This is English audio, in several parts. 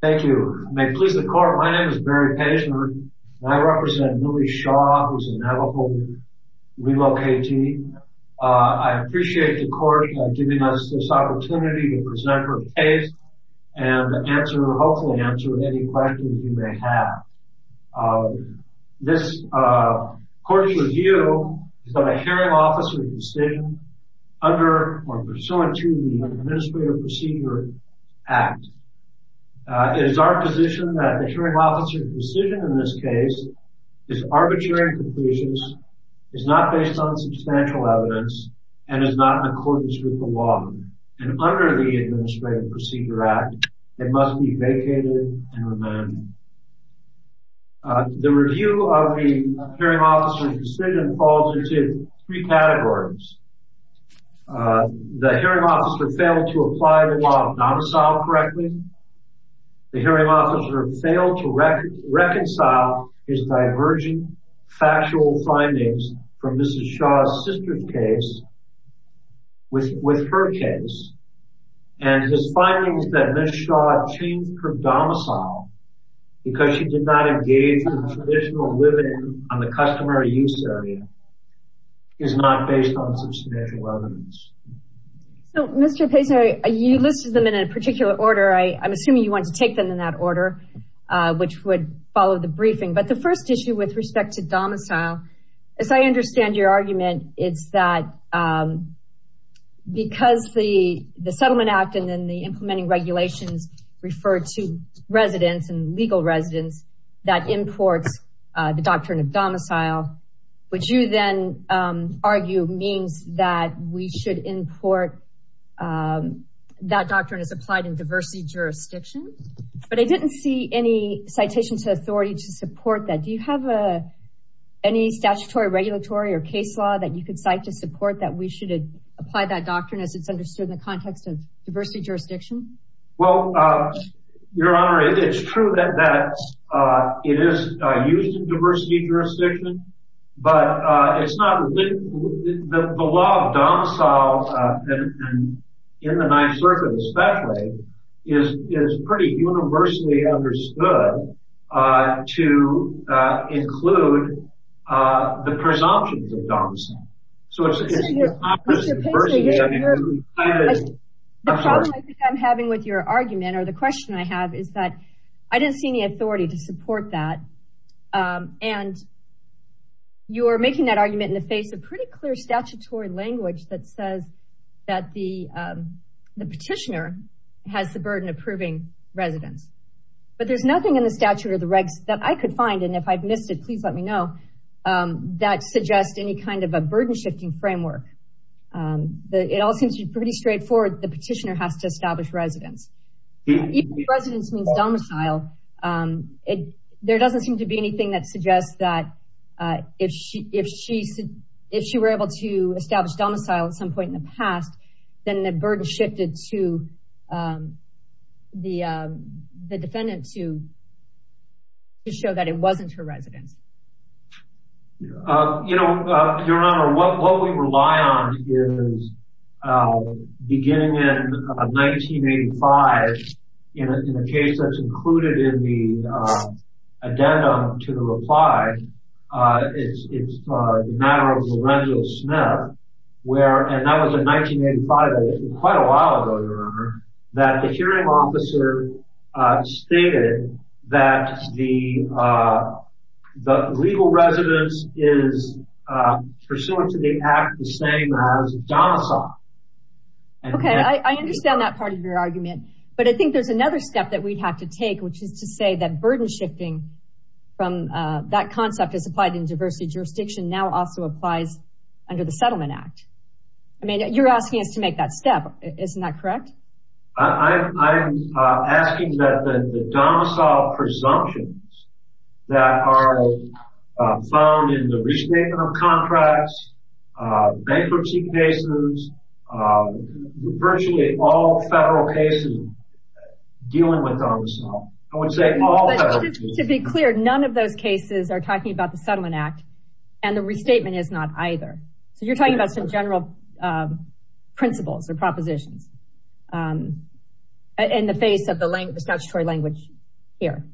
Thank you. May it please the court, my name is Barry Paisner, and I represent Millie Shaw, who is a Navajo WILO KT. I appreciate the court giving us this opportunity to present her case and hopefully answer any questions you may have. This court's review is that a hearing officer's decision under or pursuant to the Administrative Procedure Act is our position that the hearing officer's decision in this case is arbitrary and capricious, is not based on substantial evidence, and is not in accordance with the law. And under the Administrative Procedure Act, it must be vacated and remanded. The review of the hearing officer's decision falls into three categories. The hearing officer failed to apply the law not to solve correctly. The hearing officer failed to reconcile his divergent factual findings from Mrs. Shaw's sister's case with her case. And his findings that Ms. Shaw changed her domicile because she did not engage with traditional women on the customary use area is not based on substantial evidence. So, Mr. Pesare, you listed them in a particular order. I'm assuming you want to take them in that order, which would follow the briefing. But the first issue with respect to domicile, as I understand your argument, it's that because the Settlement Act and then the implementing regulations refer to residents and legal residents, that imports the doctrine of domicile, which you then argue means that we should import that doctrine as applied in diversity jurisdiction. But I didn't see any citation to authority to support that. Do you have any statutory, regulatory, or case law that you could cite to support that we should apply that doctrine as it's understood in the context of diversity jurisdiction? Well, Your Honor, it's true that it is used in diversity jurisdiction. But the law of domicile, in the Ninth Circuit especially, is pretty universally understood to include the presumptions of domicile. Mr. Pesare, the problem I think I'm having with your argument, or the question I have, is that I didn't see any authority to support that. And you're making that argument in the face of pretty clear statutory language that says that the petitioner has the burden of proving residents. But there's nothing in the statute or the regs that I could find, and if I've missed it, please let me know, that suggests any kind of a burden-shifting framework. It all seems pretty straightforward. The petitioner has to establish residents. Even if residents means domicile, there doesn't seem to be anything that suggests that if she were able to establish domicile at some point in the past, then the burden shifted to the defendant to show that it wasn't her residents. Your Honor, what we rely on is, beginning in 1985, in a case that's included in the addendum to the reply, it's the matter of Lorenzo Smith, and that was in 1985, that was quite a while ago, Your Honor, that the hearing officer stated that the legal residence is pursuant to the act the same as domicile. Okay, I understand that part of your argument. But I think there's another step that we'd have to take, which is to say that burden-shifting, that concept is applied in diversity jurisdiction, now also applies under the Settlement Act. I mean, you're asking us to make that step, isn't that correct? I'm asking that the domicile presumptions that are found in the restatement of contracts, bankruptcy cases, virtually all federal cases dealing with domicile. I would say all federal cases. But just to be clear, none of those cases are talking about the Settlement Act, and the restatement is not either. So you're talking about some general principles or propositions in the face of the statutory language here.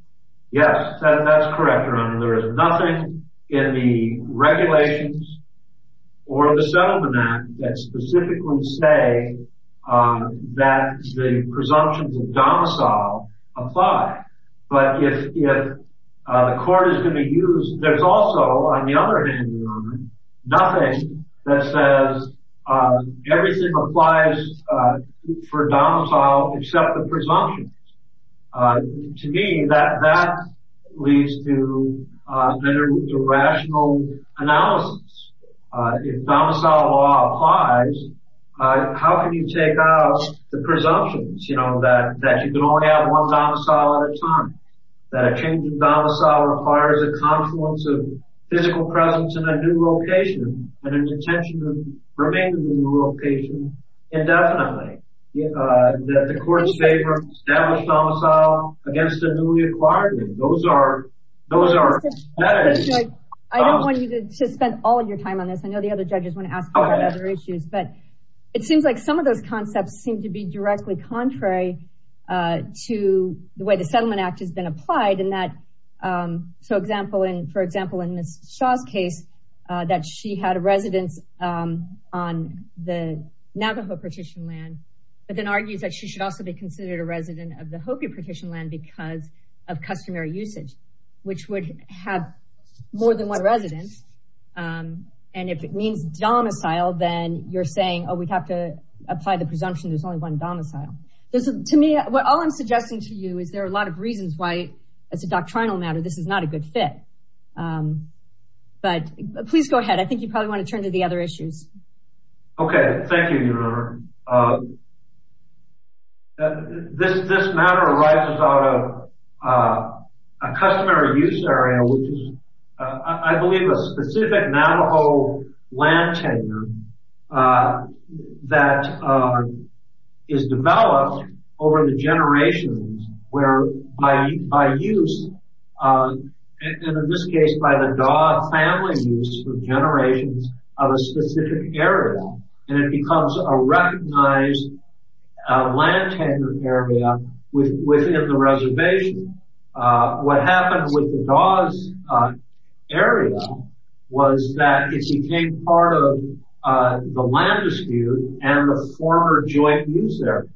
Yes, that's correct, Your Honor. There is nothing in the regulations or the Settlement Act that specifically say that the presumptions of domicile apply. But if the court is going to use – there's also, on the other hand, Your Honor, nothing that says everything applies for domicile except the presumptions. To me, that leads to irrational analysis. If domicile law applies, how can you take out the presumptions, you know, that you can only have one domicile at a time, that a change in domicile requires a confluence of physical presence in a new location and an intention to remain in the new location indefinitely? The court's favor of established domicile against a newly acquired one, those are – I don't want you to spend all of your time on this. I know the other judges want to ask a lot of other issues. But it seems like some of those concepts seem to be directly contrary to the way the Settlement Act has been applied. So, for example, in Ms. Shaw's case, that she had a residence on the Navajo partition land but then argues that she should also be considered a resident of the Hopi partition land because of customary usage, which would have more than one residence. And if it means domicile, then you're saying, oh, we have to apply the presumption there's only one domicile. To me, all I'm suggesting to you is there are a lot of reasons why, as a doctrinal matter, this is not a good fit. But please go ahead. I think you probably want to turn to the other issues. This matter arises out of a customary use area, which is, I believe, a specific Navajo land tenure that is developed over the generations, where by use, and in this case by the Daw family use for generations of a specific area, and it becomes a recognized land tenure area within the reservation. What happened with the Daw's area was that it became part of the land dispute and the former joint use area.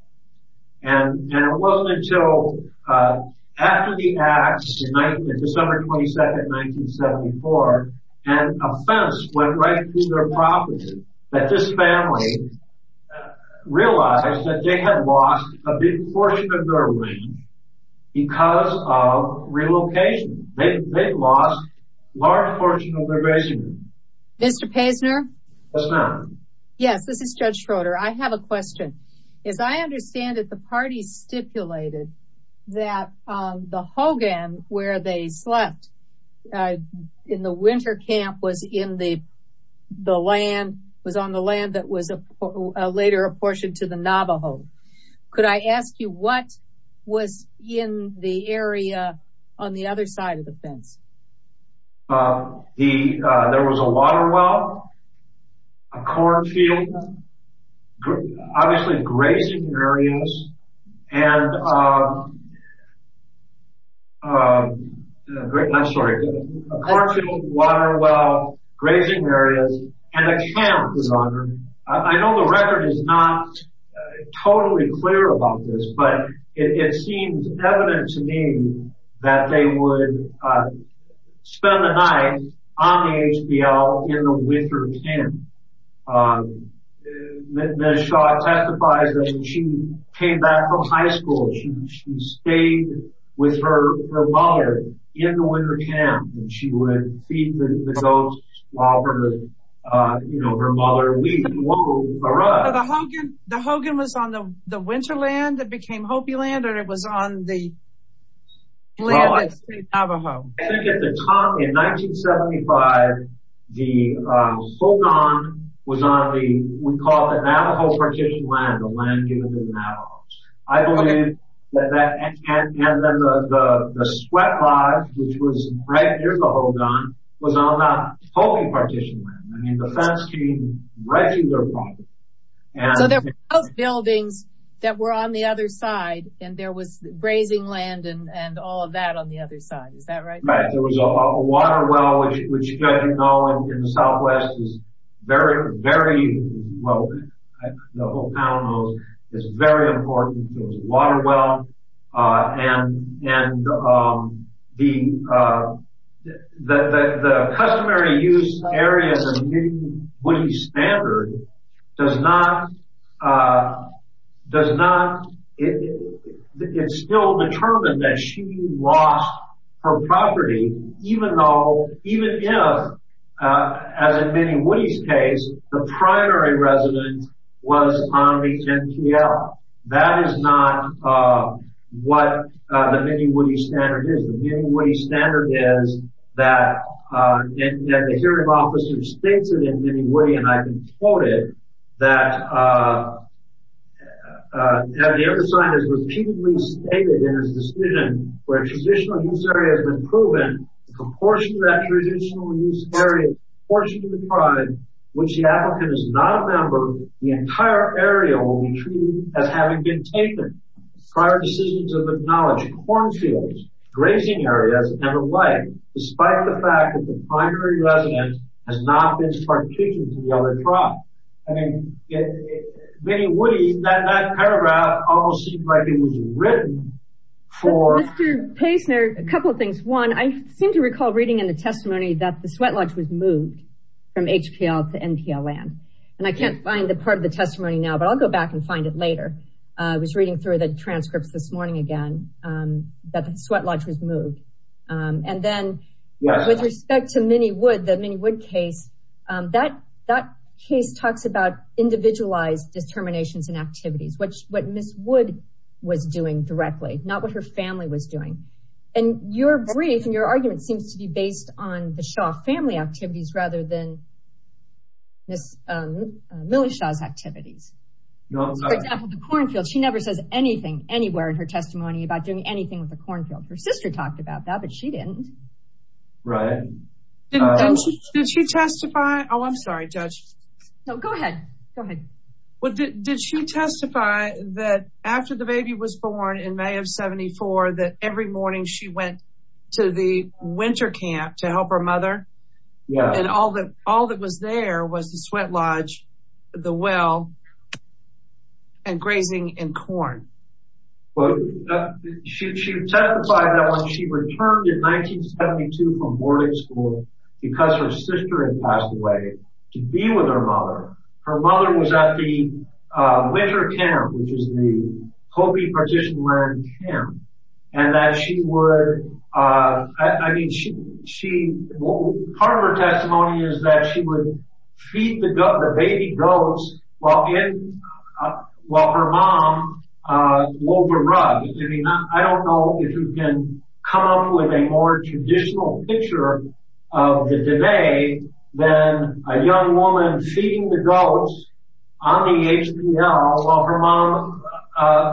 And it wasn't until after the acts, December 22nd, 1974, an offense went right through their property that this family realized that they had lost a big portion of their land because of relocation. They'd lost a large portion of their residence. Mr. Paisner? Yes, ma'am. Yes, this is Judge Schroeder. I have a question. As I understand it, the party stipulated that the Hogan, where they slept in the winter camp, was on the land that was later apportioned to the Navajo. Could I ask you what was in the area on the other side of the fence? There was a water well, a cornfield, obviously grazing areas, and a camp was on there. I know the record is not totally clear about this, but it seems evident to me that they would spend the night on the HBL in the winter camp. Ms. Shaw testifies that when she came back from high school, she stayed with her mother in the winter camp, and she would feed the goats while her mother weaned her up. The Hogan was on the winter land that became Hopi land, or it was on the land that stayed Navajo? I think at the time, in 1975, the Hogan was on what we call the Navajo partition land, the land given to the Navajos. I believe that the sweat lodge, which was right near the Hogan, was on that Hopi partition land. I mean, the fence came right to their property. So there were those buildings that were on the other side, and there was grazing land and all of that on the other side, is that right? Right. There was a water well, which, as you know, in the Southwest is very, very, well, the whole town knows, is very important. There was a water well, and the customary use areas of Minnie Woody's standard does not, does not, it's still determined that she lost her property, even though, even if, as in Minnie Woody's case, the primary residence was on the MPL. That is not what the Minnie Woody standard is. The Minnie Woody standard is that, and the hearing officer states it in Minnie Woody, and I can quote it, that, that the undersigned has repeatedly stated in his decision where a traditional use area has been proven, in proportion to that traditional use area, in proportion to the tribe, which the applicant is not a member, the entire area will be treated as having been taken. Prior decisions have acknowledged cornfields, grazing areas, and the like, despite the fact that the primary residence has not been partitioned to the other tribe. I mean, in Minnie Woody, that paragraph almost seemed like it was written for... Mr. Paisner, a couple of things. One, I seem to recall reading in the testimony that the sweat lodge was moved from HPL to MPLN, and I can't find a part of the testimony now, but I'll go back and find it later. I was reading through the transcripts this morning again, that the sweat lodge was moved. And then, with respect to Minnie Wood, the Minnie Wood case, that case talks about individualized determinations and activities, what Ms. Wood was doing directly, not what her family was doing. And your brief and your argument seems to be based on the Shaw family activities rather than Millie Shaw's activities. For example, the cornfields, she never says anything anywhere in her testimony about doing anything with the cornfields. Her sister talked about that, but she didn't. Right. Did she testify? Oh, I'm sorry, Judge. No, go ahead. Go ahead. Did she testify that after the baby was born in May of 74, that every morning she went to the winter camp to help her mother? Yes. And all that was there was the sweat lodge, the well, and grazing and corn. She testified that when she returned in 1972 from boarding school, because her sister had passed away, to be with her mother. Her mother was at the winter camp, which is the Hopi partition land camp, and that she would, I mean, part of her testimony is that she would feed the baby goats while her mom wove a rug. I don't know if you can come up with a more traditional picture of the debate than a young woman feeding the goats on the HPL while her mom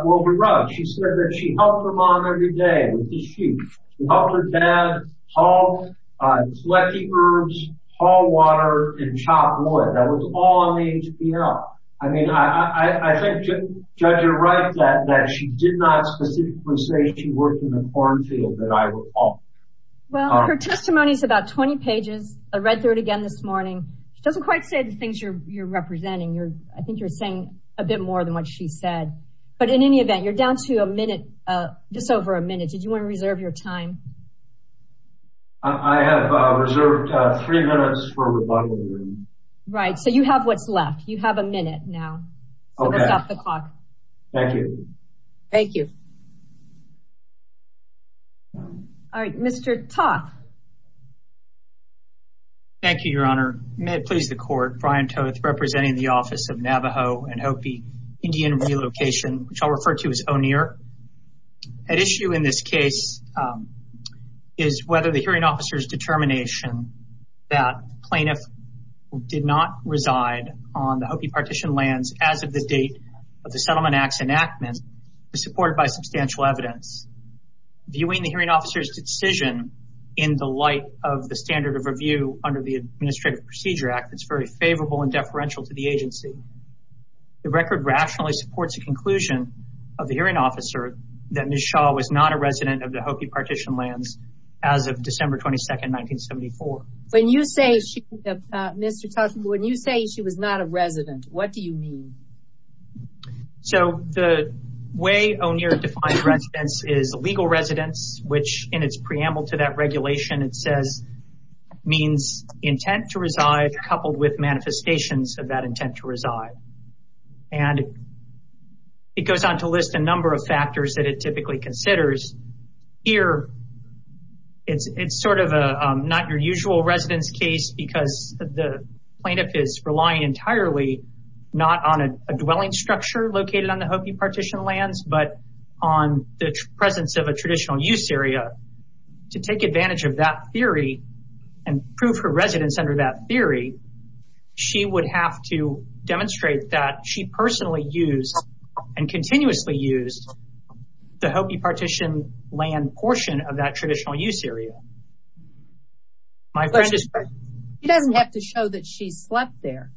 wove a rug. She said that she helped her mom every day with the sheep. She helped her dad haul flecky herbs, haul water, and chop wood. That was all on the HPL. I mean, I think, Judge, you're right that she did not specifically say she worked in the corn field that I recall. Well, her testimony is about 20 pages. I read through it again this morning. She doesn't quite say the things you're representing. I think you're saying a bit more than what she said. But in any event, you're down to a minute, just over a minute. Did you want to reserve your time? I have reserved three minutes for rebuttal. Right, so you have what's left. You have a minute now. Okay. Thank you. Thank you. All right, Mr. Toth. Thank you, Your Honor. May it please the Court, Brian Toth representing the Office of Navajo and Hopi Indian Relocation, which I'll refer to as ONER. At issue in this case is whether the hearing officer's determination that the plaintiff did not reside on the Hopi partition lands as of the date of the Settlement Act's enactment is supported by substantial evidence. Viewing the hearing officer's decision in the light of the standard of review under the Administrative Procedure Act, it's very favorable and deferential to the agency. The record rationally supports the conclusion of the hearing officer that Ms. Shaw was not a resident of the Hopi partition lands as of December 22, 1974. When you say, Mr. Toth, when you say she was not a resident, what do you mean? So the way ONER defines residence is legal residence, which in its preamble to that regulation, it says, means intent to reside coupled with manifestations of that intent to reside. And it goes on to list a number of factors that it typically considers. Here, it's sort of a not your usual residence case because the plaintiff is relying entirely not on a dwelling structure located on the Hopi partition lands, but on the presence of a traditional use area. To take advantage of that theory and prove her residence under that theory, she would have to demonstrate that she personally used and continuously used the Hopi partition land portion of that traditional use area. She doesn't have to show that she slept there.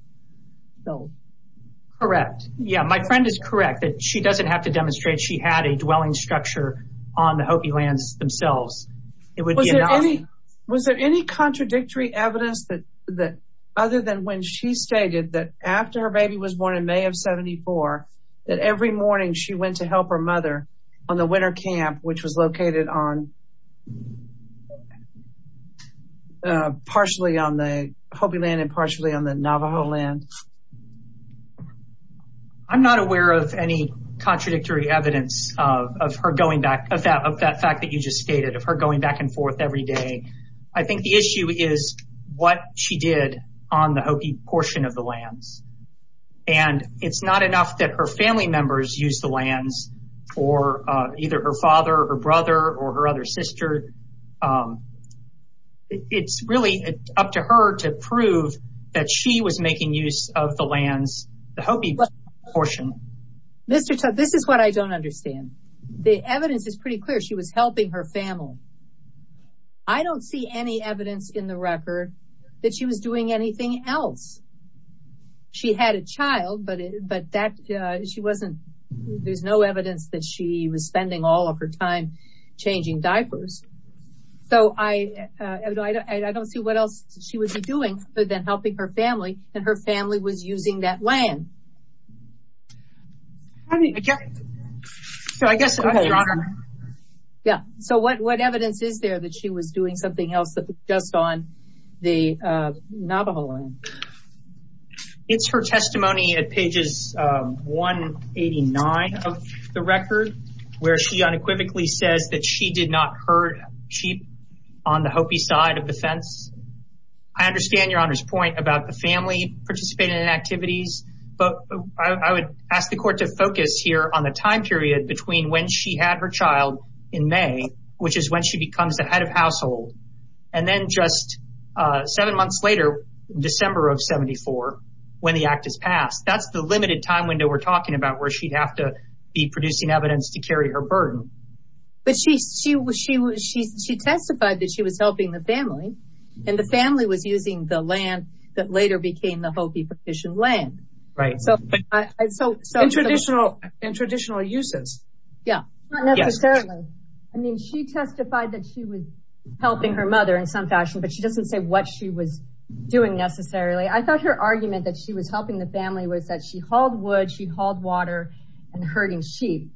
Correct. Yeah, my friend is correct that she doesn't have to demonstrate she had a dwelling structure on the Hopi lands themselves. Was there any contradictory evidence that other than when she stated that after her baby was born in May of 74, that every morning she went to help her mother on the winter camp, which was located partially on the Hopi land and partially on the Navajo land? I'm not aware of any contradictory evidence of her going back, of that fact that you just stated, of her going back and forth every day. I think the issue is what she did on the Hopi portion of the lands. And it's not enough that her family members use the lands or either her father or brother or her other sister. It's really up to her to prove that she was making use of the lands, the Hopi portion. Mr. Tut, this is what I don't understand. The evidence is pretty clear. She was helping her family. I don't see any evidence in the record that she was doing anything else. She had a child, but there's no evidence that she was spending all of her time changing diapers. So I don't see what else she would be doing other than helping her family and her family was using that land. So what evidence is there that she was doing something else just on the Navajo land? It's her testimony at pages 189 of the record, where she unequivocally says that she did not hurt sheep on the Hopi side of the fence. I understand Your Honor's point about the family participating in activities. But I would ask the court to focus here on the time period between when she had her child in May, which is when she becomes the head of household. And then just seven months later, December of 1974, when the act is passed. That's the limited time window we're talking about where she'd have to be producing evidence to carry her burden. But she testified that she was helping the family. And the family was using the land that later became the Hopi petition land. Right. In traditional uses. Yeah. Not necessarily. I mean, she testified that she was helping her mother in some fashion, but she doesn't say what she was doing necessarily. I thought her argument that she was helping the family was that she hauled wood, she hauled water and herding sheep.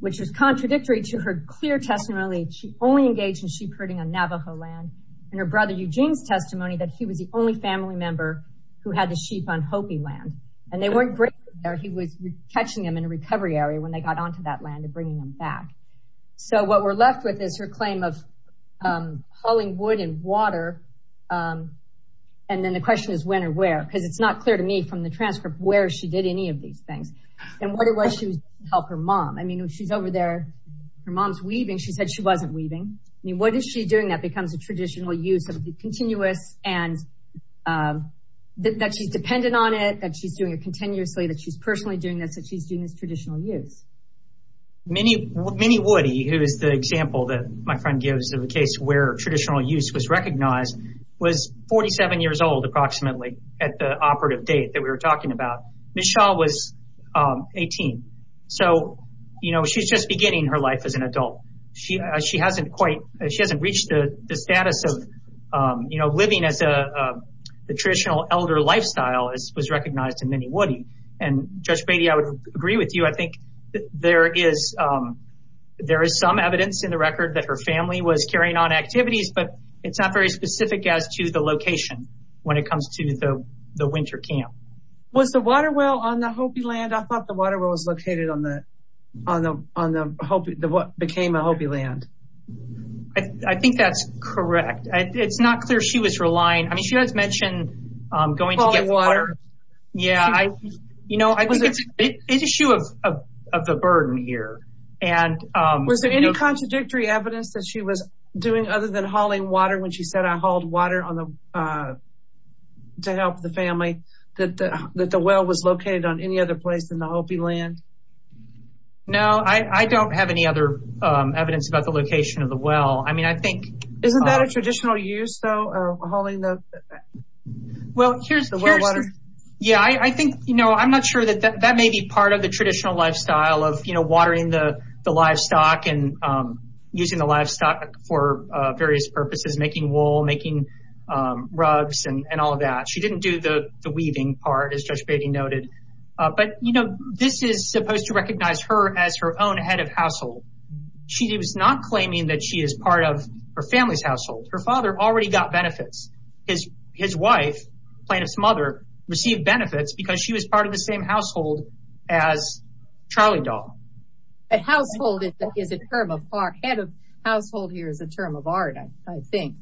Which is contradictory to her clear testimony. She only engaged in sheep herding on Navajo land. And her brother Eugene's testimony that he was the only family member who had the sheep on Hopi land. And they weren't great there. He was catching them in a recovery area when they got onto that land and bringing them back. So what we're left with is her claim of hauling wood and water. And then the question is when or where. Because it's not clear to me from the transcript where she did any of these things. And what it was she was doing to help her mom. I mean, she's over there. Her mom's weaving. She said she wasn't weaving. I mean, what is she doing that becomes a traditional use of the continuous and that she's dependent on it. That she's doing it continuously. That she's personally doing this. That she's doing this traditional use. Minnie Woody, who is the example that my friend gives of a case where traditional use was recognized. Was 47 years old approximately at the operative date that we were talking about. Michelle was 18. So, you know, she's just beginning her life as an adult. She hasn't reached the status of living as a traditional elder lifestyle as was recognized in Minnie Woody. And Judge Beatty, I would agree with you. I think there is some evidence in the record that her family was carrying on activities. But it's not very specific as to the location when it comes to the winter camp. Was the water well on the Hopi land? I thought the water well was located on what became a Hopi land. I think that's correct. It's not clear she was relying. I mean, she has mentioned going to get water. Yeah, you know, it's an issue of the burden here. Was there any contradictory evidence that she was doing other than hauling water when she said I hauled water to help the family? That the well was located on any other place than the Hopi land? No, I don't have any other evidence about the location of the well. I mean, I think. Isn't that a traditional use, though, of hauling the? Well, here's the well water. Yeah, I think, you know, I'm not sure that that may be part of the traditional lifestyle of, you know, watering the livestock and using the livestock for various purposes, making wool, making rugs and all of that. She didn't do the weaving part, as Judge Beatty noted. But, you know, this is supposed to recognize her as her own head of household. She was not claiming that she is part of her family's household. Her father already got benefits. His wife, Plaintiff's mother, received benefits because she was part of the same household as Charlie Doll. A household is a term of art. Head of household here is a term of art, I think.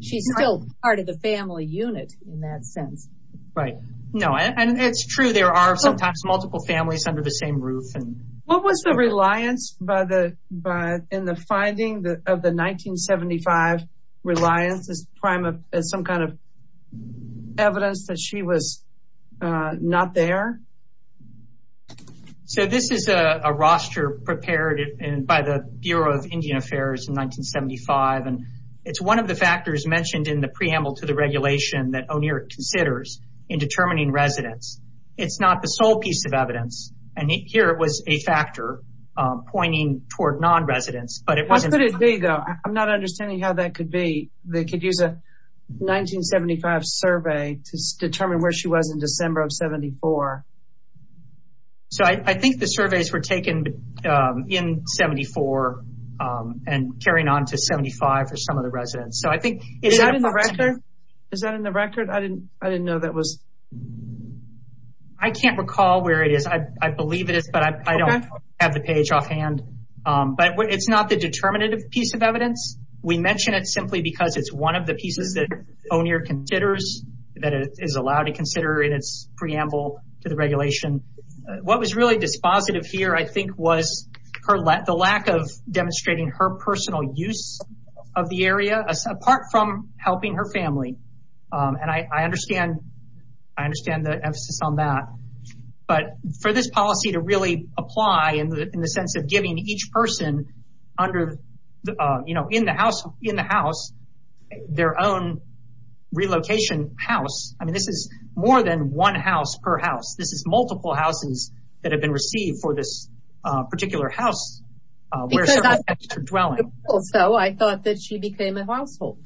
She's still part of the family unit in that sense. Right. No, and it's true. There are sometimes multiple families under the same roof. What was the reliance in the finding of the 1975 reliance as some kind of evidence that she was not there? So this is a roster prepared by the Bureau of Indian Affairs in 1975. And it's one of the factors mentioned in the preamble to the regulation that O'Neill considers in determining residence. It's not the sole piece of evidence. And here it was a factor pointing toward non-residents. What could it be, though? I'm not understanding how that could be. They could use a 1975 survey to determine where she was in December of 74. So I think the surveys were taken in 74 and carrying on to 75 for some of the residents. Is that in the record? I can't recall where it is. I believe it is, but I don't have the page offhand. But it's not the determinative piece of evidence. We mention it simply because it's one of the pieces that O'Neill considers that is allowed to consider in its preamble to the regulation. What was really dispositive here, I think, was the lack of demonstrating her personal use of the area, apart from helping her family. And I understand the emphasis on that. But for this policy to really apply in the sense of giving each person in the house their own relocation house, I mean, this is more than one house per house. This is multiple houses that have been received for this particular house where several families are dwelling. So I thought that she became a household.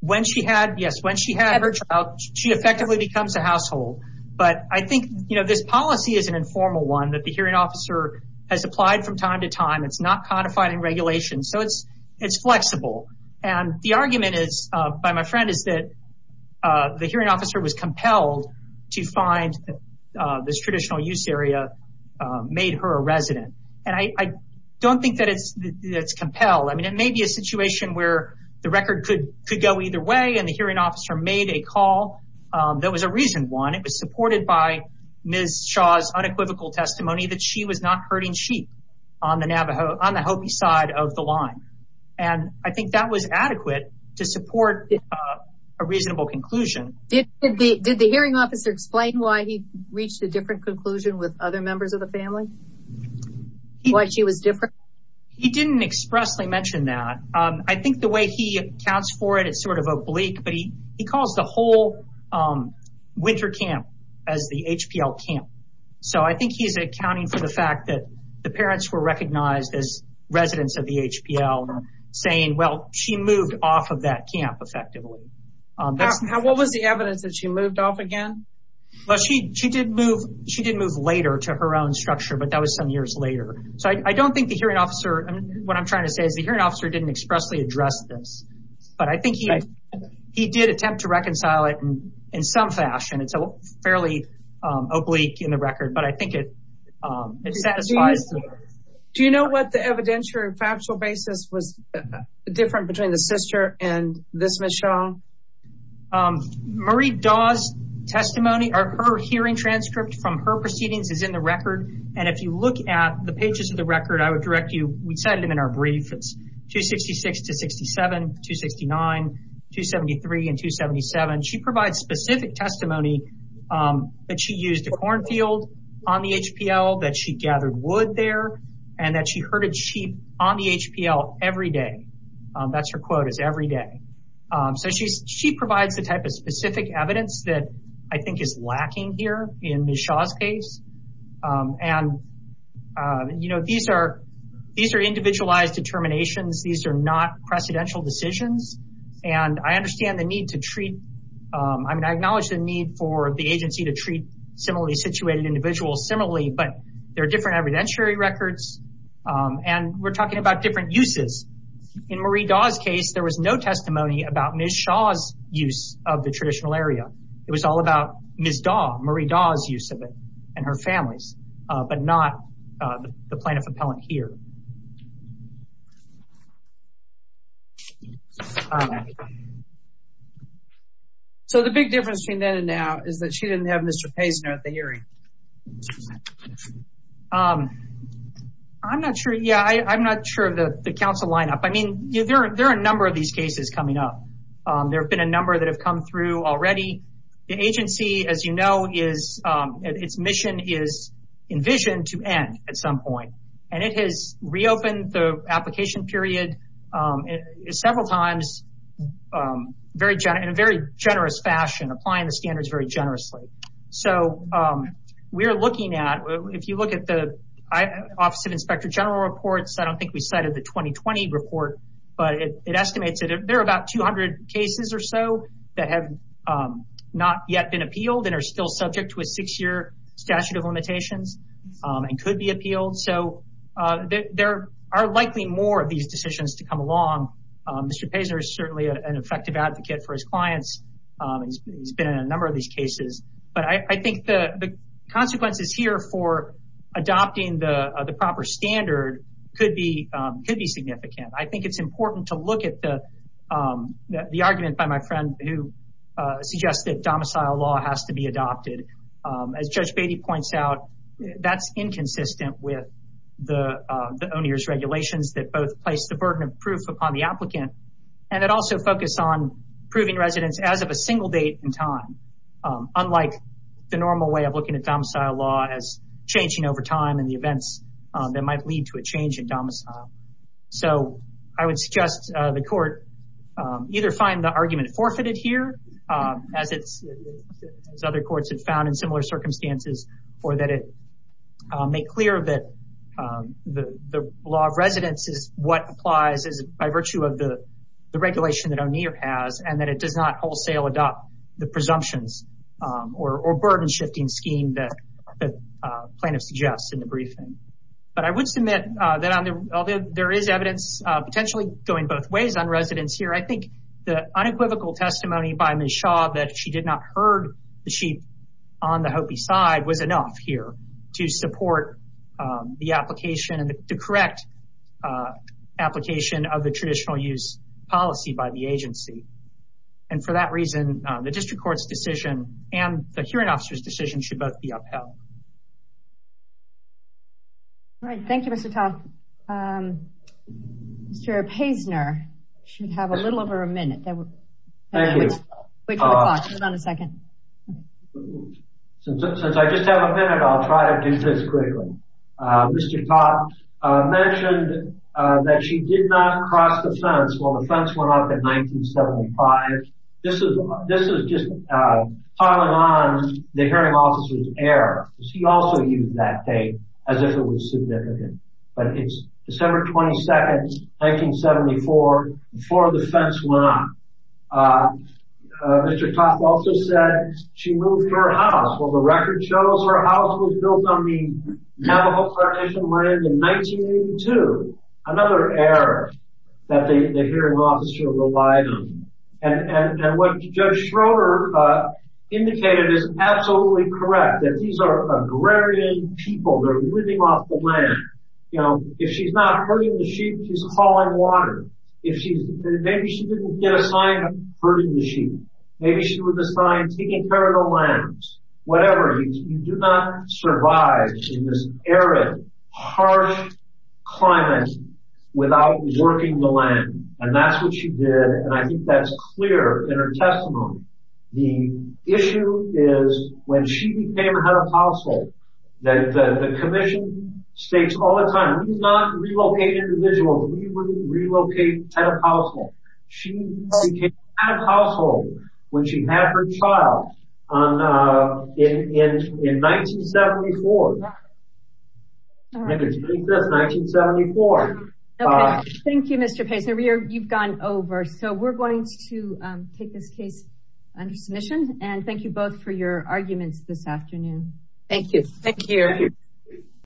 When she had her child, she effectively becomes a household. But I think this policy is an informal one that the hearing officer has applied from time to time. It's not codified in regulation. So it's flexible. And the argument by my friend is that the hearing officer was compelled to find this traditional use area made her a resident. And I don't think that it's compelled. I mean, it may be a situation where the record could go either way and the hearing officer made a call that was a reason one. It was supported by Ms. Shaw's unequivocal testimony that she was not herding sheep on the Hopi side of the line. And I think that was adequate to support a reasonable conclusion. Did the hearing officer explain why he reached a different conclusion with other members of the family? Why she was different? He didn't expressly mention that. I think the way he accounts for it, it's sort of oblique, but he calls the whole winter camp as the HPL camp. So I think he's accounting for the fact that the parents were recognized as residents of the HPL saying, well, she moved off of that camp effectively. What was the evidence that she moved off again? Well, she did move later to her own structure, but that was some years later. So I don't think the hearing officer, what I'm trying to say is the hearing officer didn't expressly address this. But I think he did attempt to reconcile it in some fashion. It's fairly oblique in the record, but I think it satisfies. Do you know what the evidentiary factual basis was different between the sister and this Ms. Shaw? Marie Daw's testimony or her hearing transcript from her proceedings is in the record. And if you look at the pages of the record, I would direct you, we set it in our brief. It's 266 to 67, 269, 273, and 277. She provides specific testimony that she used a cornfield on the HPL, that she gathered wood there, and that she herded sheep on the HPL every day. That's her quote is every day. So she provides the type of specific evidence that I think is lacking here in Ms. Shaw's case. And, you know, these are individualized determinations. These are not precedential decisions. And I understand the need to treat, I mean, I acknowledge the need for the agency to treat similarly situated individuals similarly, but there are different evidentiary records. And we're talking about different uses. In Marie Daw's case, there was no testimony about Ms. Shaw's use of the traditional area. It was all about Ms. Daw, Marie Daw's use of it, and her family's, but not the plaintiff appellant here. So the big difference between then and now is that she didn't have Mr. Paisner at the hearing. I'm not sure, yeah, I'm not sure of the council lineup. I mean, there are a number of these cases coming up. There have been a number that have come through already. The agency, as you know, its mission is envisioned to end at some point. And it has reopened the application period several times in a very generous fashion, applying the standards very generously. So we're looking at, if you look at the Office of Inspector General reports, I don't think we cited the 2020 report, but it estimates that there are about 200 cases or so that have not yet been appealed and are still subject to a six-year statute of limitations and could be appealed. So there are likely more of these decisions to come along. Mr. Paisner is certainly an effective advocate for his clients. He's been in a number of these cases. But I think the consequences here for adopting the proper standard could be significant. I think it's important to look at the argument by my friend who suggests that domicile law has to be adopted. As Judge Beatty points out, that's inconsistent with the O'Neill's regulations that both place the burden of proof upon the applicant and that also focus on proving residence as of a single date and time, unlike the normal way of looking at domicile law as changing over time and the events that might lead to a change in domicile. So I would suggest the court either find the argument forfeited here, as other courts have found in similar circumstances, or that it make clear that the law of residence is what applies by virtue of the regulation that O'Neill has and that it does not wholesale adopt the presumptions or burden-shifting scheme that the plaintiff suggests in the briefing. But I would submit that although there is evidence potentially going both ways on residence here, I think the unequivocal testimony by Ms. Shaw that she did not herd the sheep on the Hopi side was enough here to support the application and to correct application of the traditional use policy by the agency. And for that reason, the district court's decision and the hearing officer's decision should both be upheld. All right. Thank you, Mr. Todd. Mr. Paisner should have a little over a minute. Thank you. Wait for the clock. Hold on a second. Since I just have a minute, I'll try to do this quickly. Mr. Toth mentioned that she did not cross the fence when the fence went up in 1975. This is just following on the hearing officer's error. She also used that date as if it was significant. But it's December 22, 1974, before the fence went up. Mr. Toth also said she moved her house. Well, the record shows her house was built on the Navajo Foundation land in 1982, another error that the hearing officer relied on. And what Judge Schroeder indicated is absolutely correct, that these are agrarian people. They're living off the land. If she's not herding the sheep, she's hauling water. Maybe she didn't get assigned herding the sheep. Maybe she was assigned taking care of the lambs, whatever. You do not survive in this arid, harsh climate without working the land. And that's what she did, and I think that's clear in her testimony. The issue is when she became head of household, that the commission states all the time, we do not relocate individuals, we relocate head of household. She became head of household when she had her child in 1974. Thank you, Mr. Payson. You've gone over. So we're going to take this case under submission, and thank you both for your arguments this afternoon. Thank you. Thank you.